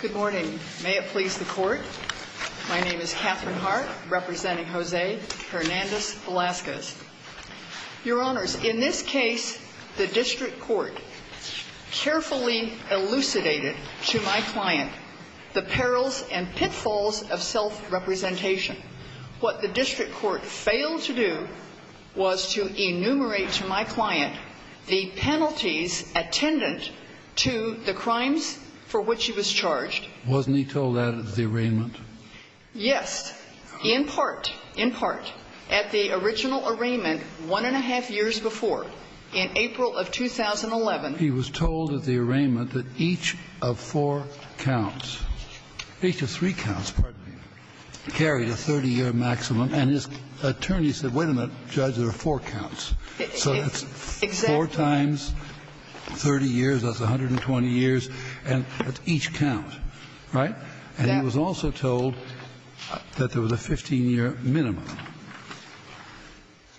Good morning. May it please the court. My name is Katherine Hart, representing Jose Hernandez-Velazquez. Your Honors, in this case, the district court carefully elucidated to my client the perils and pitfalls of self-representation. What the district court failed to do was to enumerate to my client the penalties attendant to the crimes for which he was charged. Wasn't he told that at the arraignment? Yes, in part, in part. At the original arraignment, one and a half years before, in April of 2011. He was told at the arraignment that each of four counts, each of three counts, pardon me, carried a 30-year maximum, and his attorney said, wait a minute, Judge, there are four counts. So that's four times 30 years, that's 120 years, and that's each count, right? And he was also told that there was a 15-year minimum.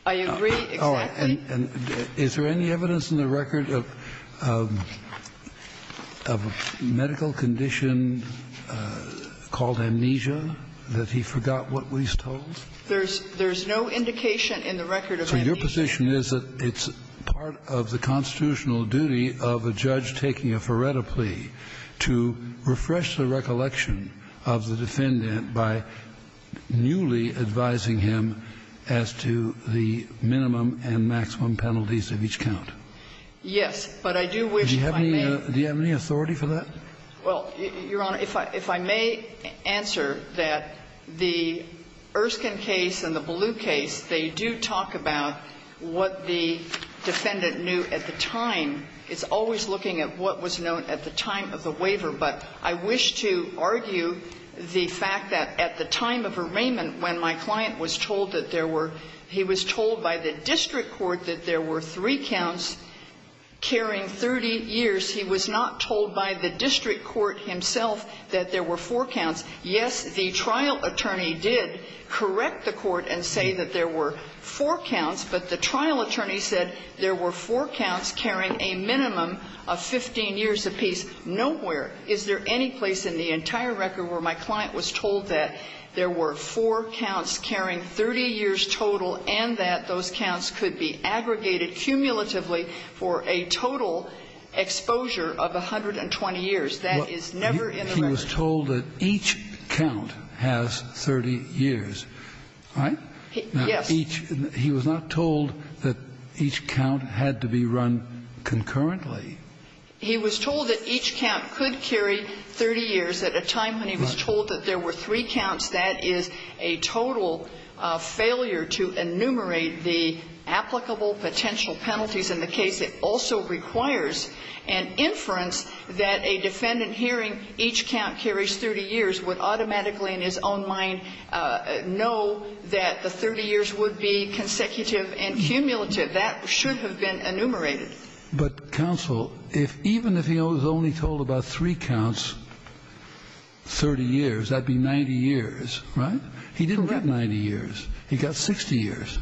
I agree exactly. And is there any evidence in the record of a medical condition called amnesia, that he forgot what he was told? There's no indication in the record of amnesia. So your position is that it's part of the constitutional duty of a judge taking a Feretta plea to refresh the recollection of the defendant by newly advising him as to the minimum and maximum penalties of each count? Yes. But I do wish, if I may ---- Do you have any authority for that? Well, Your Honor, if I may answer that, the Erskine case and the Ballew case, they do talk about what the defendant knew at the time. It's always looking at what was known at the time of the waiver. But I wish to argue the fact that at the time of arraignment, when my client was told that there were ---- he was told by the district court that there were three counts carrying 30 years. He was not told by the district court himself that there were four counts. Yes, the trial attorney did correct the court and say that there were four counts, but the trial attorney said there were four counts carrying a minimum of 15 years apiece nowhere. Is there any place in the entire record where my client was told that there were four counts carrying 30 years total and that those counts could be aggregated cumulatively for a total exposure of 120 years? That is never in the record. He was told that each count has 30 years, right? Yes. He was not told that each count had to be run concurrently. He was told that each count could carry 30 years at a time when he was told that there were three counts. That is a total failure to enumerate the applicable potential penalties in the case. It also requires an inference that a defendant hearing each count carries 30 years would automatically in his own mind know that the 30 years would be consecutive and cumulative. That should have been enumerated. But counsel, even if he was only told about three counts, 30 years, that would be 90 years, right? Correct. He didn't get 90 years. He got 60 years.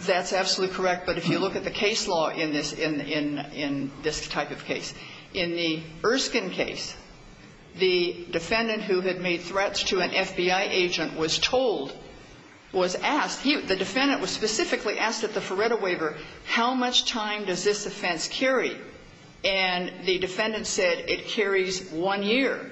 That's absolutely correct. But if you look at the case law in this type of case, in the Erskine case, the defendant who had made threats to an FBI agent was told, was asked, the defendant was specifically asked at the Feretta waiver, how much time does this offense carry? And the defendant said it carries one year.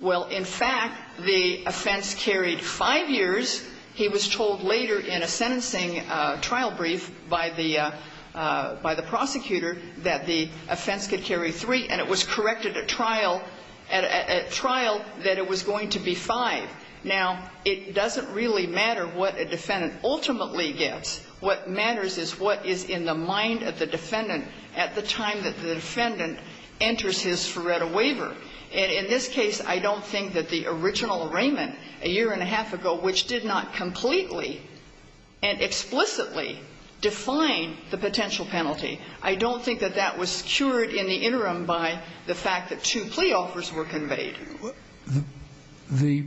Well, in fact, the offense carried five years. He was told later in a sentencing trial brief by the prosecutor that the offense could carry three, and it was corrected at trial that it was going to be five. Now, it doesn't really matter what a defendant ultimately gets. What matters is what is in the mind of the defendant at the time that the defendant enters his Feretta waiver. And in this case, I don't think that the original arraignment a year and a half ago, which did not completely and explicitly define the potential penalty, I don't think that that was cured in the interim by the fact that two plea offers were conveyed. The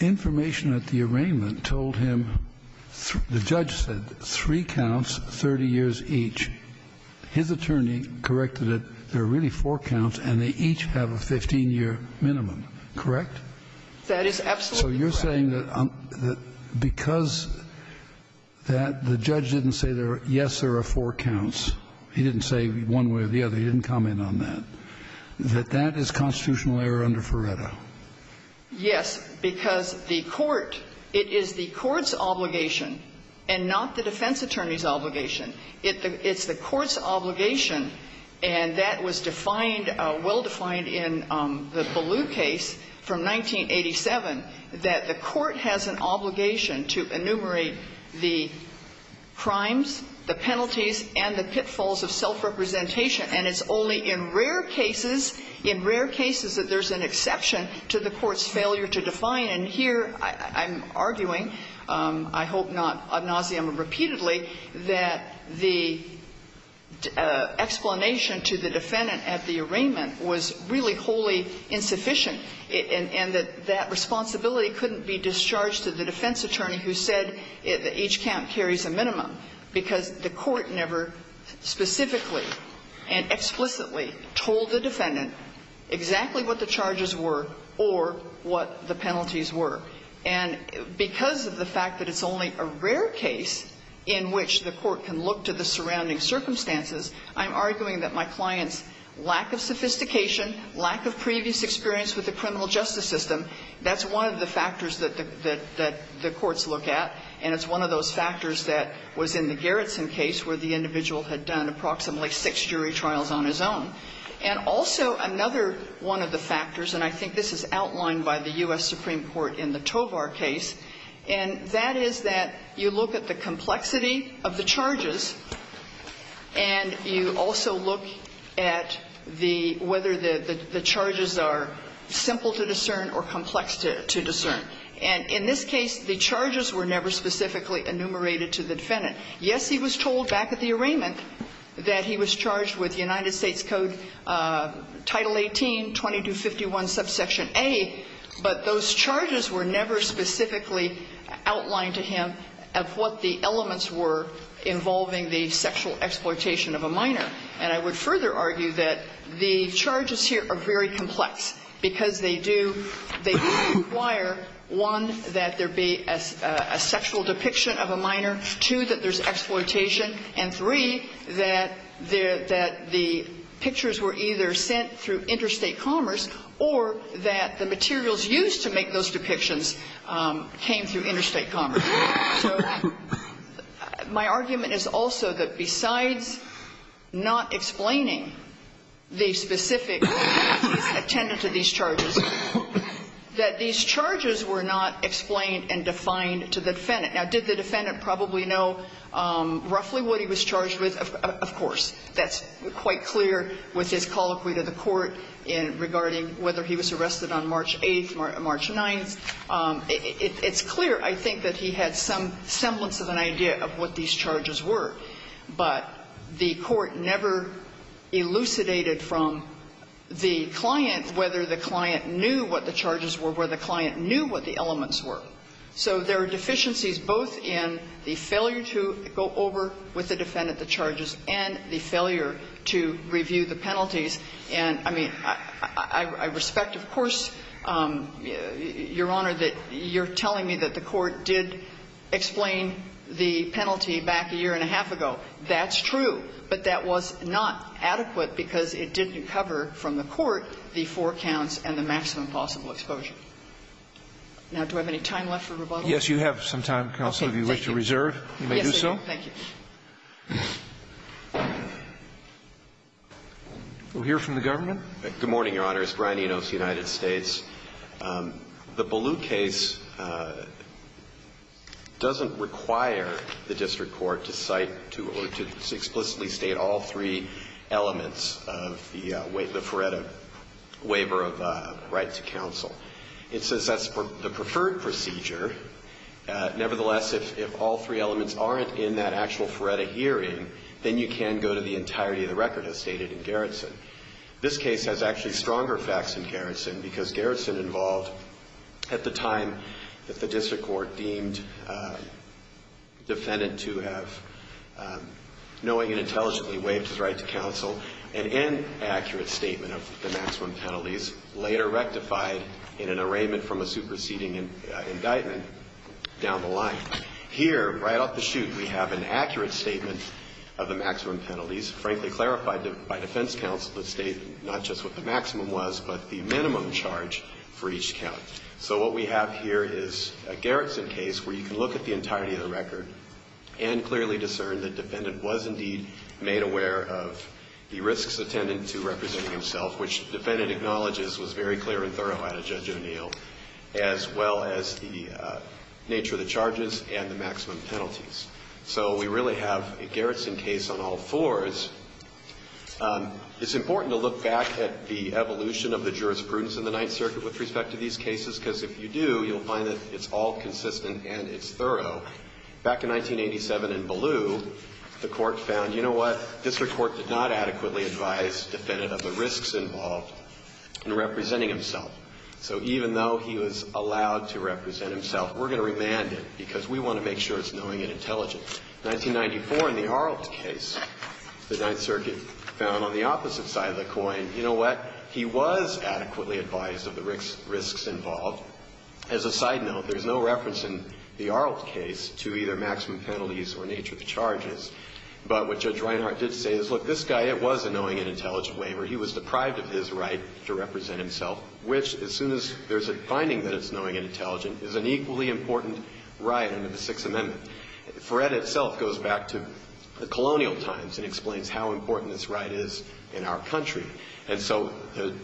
information at the arraignment told him, the judge said, three counts, 30 years each. His attorney corrected it, there are really four counts, and they each have a 15-year minimum, correct? That is absolutely correct. So you're saying that because that the judge didn't say, yes, there are four counts, he didn't say one way or the other, he didn't comment on that, that that is constitutional error under Feretta? Yes, because the court, it is the court's obligation and not the defense attorney's obligation. It's the court's obligation, and that was defined, well-defined in the Ballew case from 1987, that the court has an obligation to enumerate the crimes, the penalties, and the pitfalls of self-representation. And it's only in rare cases, in rare cases, that there's an exception to the court's failure to define. And here I'm arguing, I hope not ad nauseum or repeatedly, that the explanation to the defendant at the arraignment was really wholly insufficient, and that that responsibility couldn't be discharged to the defense attorney who said each count carries a minimum, because the court never specifically. And explicitly told the defendant exactly what the charges were or what the penalties were. And because of the fact that it's only a rare case in which the court can look to the surrounding circumstances, I'm arguing that my client's lack of sophistication, lack of previous experience with the criminal justice system, that's one of the factors that the courts look at, and it's one of those factors that was in the Gerritsen case, where the individual had done approximately six jury trials on his own. And also, another one of the factors, and I think this is outlined by the U.S. Supreme Court in the Tovar case, and that is that you look at the complexity of the charges, and you also look at the – whether the charges are simple to discern or complex to discern. And in this case, the charges were never specifically enumerated to the defendant. Yes, he was told back at the arraignment that he was charged with United States Code Title 18-2251, subsection A, but those charges were never specifically outlined to him of what the elements were involving the sexual exploitation of a minor. And I would further argue that the charges here are very complex, because they do – they require, one, that there be a sexual depiction of a minor, two, that there's exploitation, and three, that the pictures were either sent through interstate commerce or that the materials used to make those depictions came through interstate commerce. So my argument is also that besides not explaining the specifics of the attendant to these charges, that these charges were not explained and defined to the defendant. Now, did the defendant probably know roughly what he was charged with? Of course. That's quite clear with his colloquy to the Court in – regarding whether he was arrested on March 8th, March 9th. It's clear, I think, that he had some semblance of an idea of what these charges were. But the Court never elucidated from the client whether the client knew what the charges were, where the client knew what the elements were. So there are deficiencies both in the failure to go over with the defendant the charges and the failure to review the penalties. And, I mean, I respect, of course, Your Honor, that you're telling me that the Court did explain the penalty back a year and a half ago. That's true. But that was not adequate because it didn't cover from the Court the four counts and the maximum possible exposure. Now, do I have any time left for rebuttal? Yes, you have some time, counsel, if you wish to reserve. Yes, thank you. We'll hear from the government. Good morning, Your Honor. It's Brian Enos, United States. The Ballew case doesn't require the district court to cite to or to explicitly state all three elements of the Furetta waiver of right to counsel. It says that's the preferred procedure. Nevertheless, if all three elements aren't in that actual Furetta hearing, then you can go to the entirety of the record, as stated in Gerritsen. This case has actually stronger facts than Gerritsen because Gerritsen involved, at the time that the district court deemed defendant to have knowing and intelligently waived his right to counsel, an inaccurate statement of the maximum penalties, later rectified in an arraignment from a superseding indictment down the line. Here, right off the chute, we have an accurate statement of the maximum penalties. So, what we have here is a Gerritsen case where you can look at the entirety of the record and clearly discern that the defendant was indeed made aware of the risks attendant to representing himself, which the defendant acknowledges was very clear and thorough out of Judge O'Neill, as well as the nature of the charges and the maximum penalties. So, we really have a Gerritsen case on all fours. It's important to look back at the evolution of the jurisprudence in the Ninth Circuit with respect to these cases, because if you do, you'll find that it's all consistent and it's thorough. Back in 1987 in Ballew, the court found, you know what, district court did not adequately advise defendant of the risks involved in representing himself. So, even though he was allowed to represent himself, we're going to remand him because we want to make sure it's knowing and intelligent. So, 1994 in the Arlt case, the Ninth Circuit found on the opposite side of the coin, you know what, he was adequately advised of the risks involved. As a side note, there's no reference in the Arlt case to either maximum penalties or nature of the charges. But what Judge Reinhart did say is, look, this guy, it was a knowing and intelligent waiver. He was deprived of his right to represent himself, which, as soon as there's a finding that it's knowing and intelligent, is an equally important right under the Sixth Circuit. And that in itself goes back to the colonial times and explains how important this right is in our country. And so,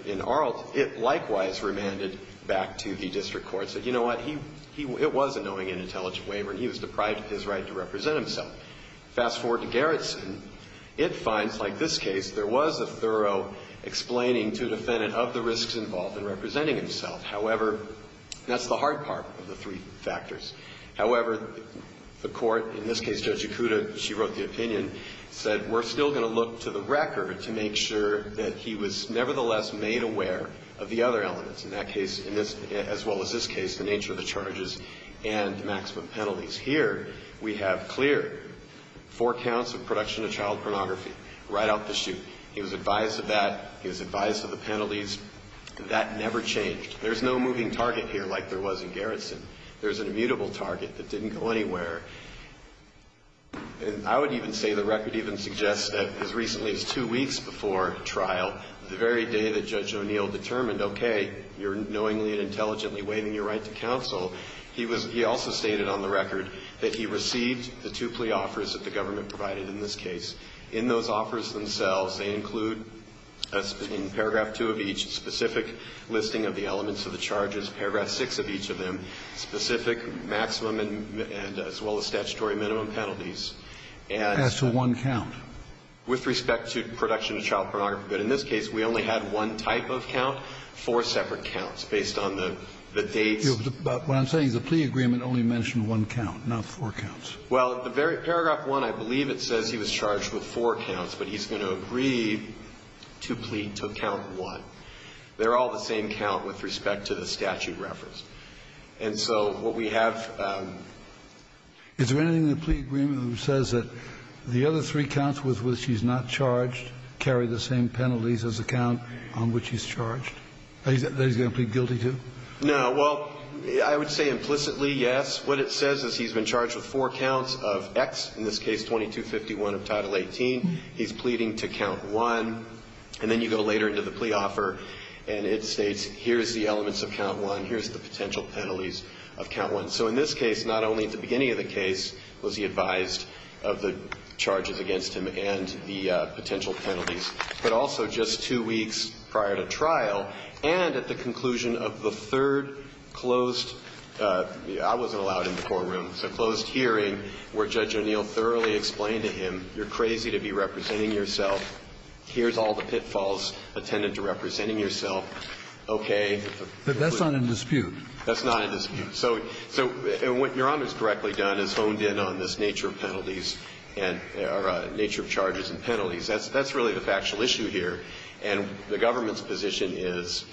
in Arlt, it likewise remanded back to the district court, said, you know what, he, it was a knowing and intelligent waiver and he was deprived of his right to represent himself. Fast forward to Garretson, it finds, like this case, there was a thorough explaining to defendant of the risks involved in representing himself. However, that's the hard part of the three factors. However, the court, in this case, Judge Yakuda, she wrote the opinion, said, we're still going to look to the record to make sure that he was nevertheless made aware of the other elements. In that case, as well as this case, the nature of the charges and the maximum penalties. Here, we have clear four counts of production of child pornography right out the chute. He was advised of that. He was advised of the penalties. That never changed. There's no moving target here like there was in Garretson. There's an immutable target that didn't go anywhere. I would even say the record even suggests that as recently as two weeks before trial, the very day that Judge O'Neill determined, okay, you're knowingly and intelligently waiving your right to counsel, he was, he also stated on the record that he received the two plea offers that the government provided in this case. In those offers themselves, they include, in paragraph two of each, specific listing of the elements of the charges, paragraph six of each of them, specific maximum and as well as statutory minimum penalties. And so one count. With respect to production of child pornography. But in this case, we only had one type of count, four separate counts based on the dates. But what I'm saying is the plea agreement only mentioned one count, not four counts. Well, the very paragraph one, I believe it says he was charged with four counts, but he's going to agree to plead to count one. They're all the same count with respect to the statute reference. And so what we have ---- Is there anything in the plea agreement that says that the other three counts with which he's not charged carry the same penalties as the count on which he's charged? That he's going to plead guilty to? No. Well, I would say implicitly, yes. What it says is he's been charged with four counts of X, in this case 2251 of Title III, he's pleading to count one. And then you go later into the plea offer and it states here's the elements of count one, here's the potential penalties of count one. So in this case, not only at the beginning of the case was he advised of the charges against him and the potential penalties, but also just two weeks prior to trial and at the conclusion of the third closed ---- I wasn't allowed in the courtroom to close hearing where Judge O'Neill thoroughly explained to him, you're crazy to be representing yourself, here's all the pitfalls attendant to representing yourself, okay. But that's not in dispute. That's not in dispute. So what Your Honor has correctly done is honed in on this nature of penalties and nature of charges and penalties. That's really the factual issue here. And the government's position is,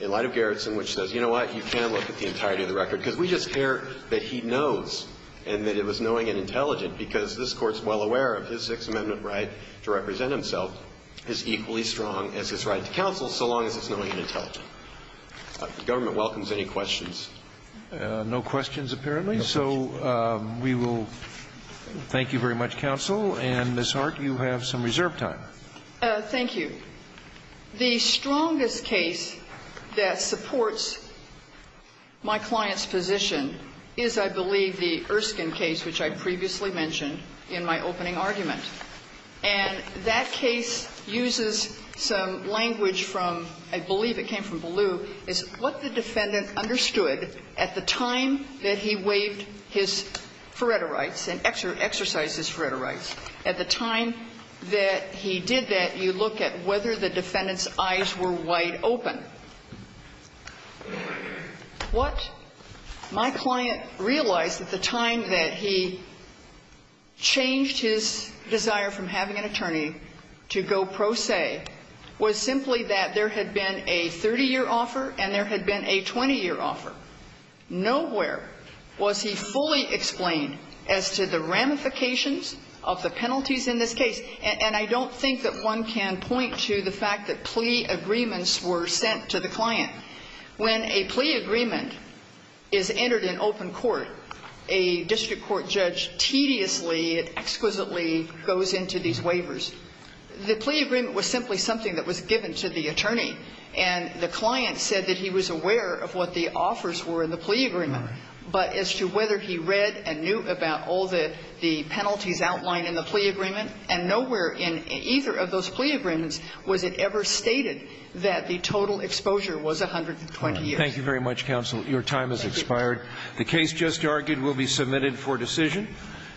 in light of Garrison, which says, you know what, you can look at the entirety of the record, because we just care that he knows and that it was knowing and intelligent, because this Court is well aware of his Sixth Amendment right to represent himself is equally strong as his right to counsel so long as it's knowing and intelligent. The government welcomes any questions. No questions, apparently. So we will thank you very much, counsel. And, Ms. Hart, you have some reserve time. Thank you. The strongest case that supports my client's position is, I believe, the Erskine case, which I previously mentioned in my opening argument. And that case uses some language from, I believe it came from Ballew, is what the defendant understood at the time that he waived his Faretta rights and exercised his Faretta rights. At the time that he did that, you look at whether the defendant's eyes were wide open. What my client realized at the time that he changed his desire from having an attorney to go pro se was simply that there had been a 30-year offer and there had been a 20-year offer. Nowhere was he fully explained as to the ramifications of the penalties in this case. And I don't think that one can point to the fact that plea agreements were sent to the client. When a plea agreement is entered in open court, a district court judge tediously and exquisitely goes into these waivers. The plea agreement was simply something that was given to the attorney. And the client said that he was aware of what the offers were in the plea agreement. But as to whether he read and knew about all the penalties outlined in the plea agreement, and nowhere in either of those plea agreements was it ever stated that the total exposure was 120 years. Thank you very much, counsel. Your time has expired. Thank you. The case just argued will be submitted for decision.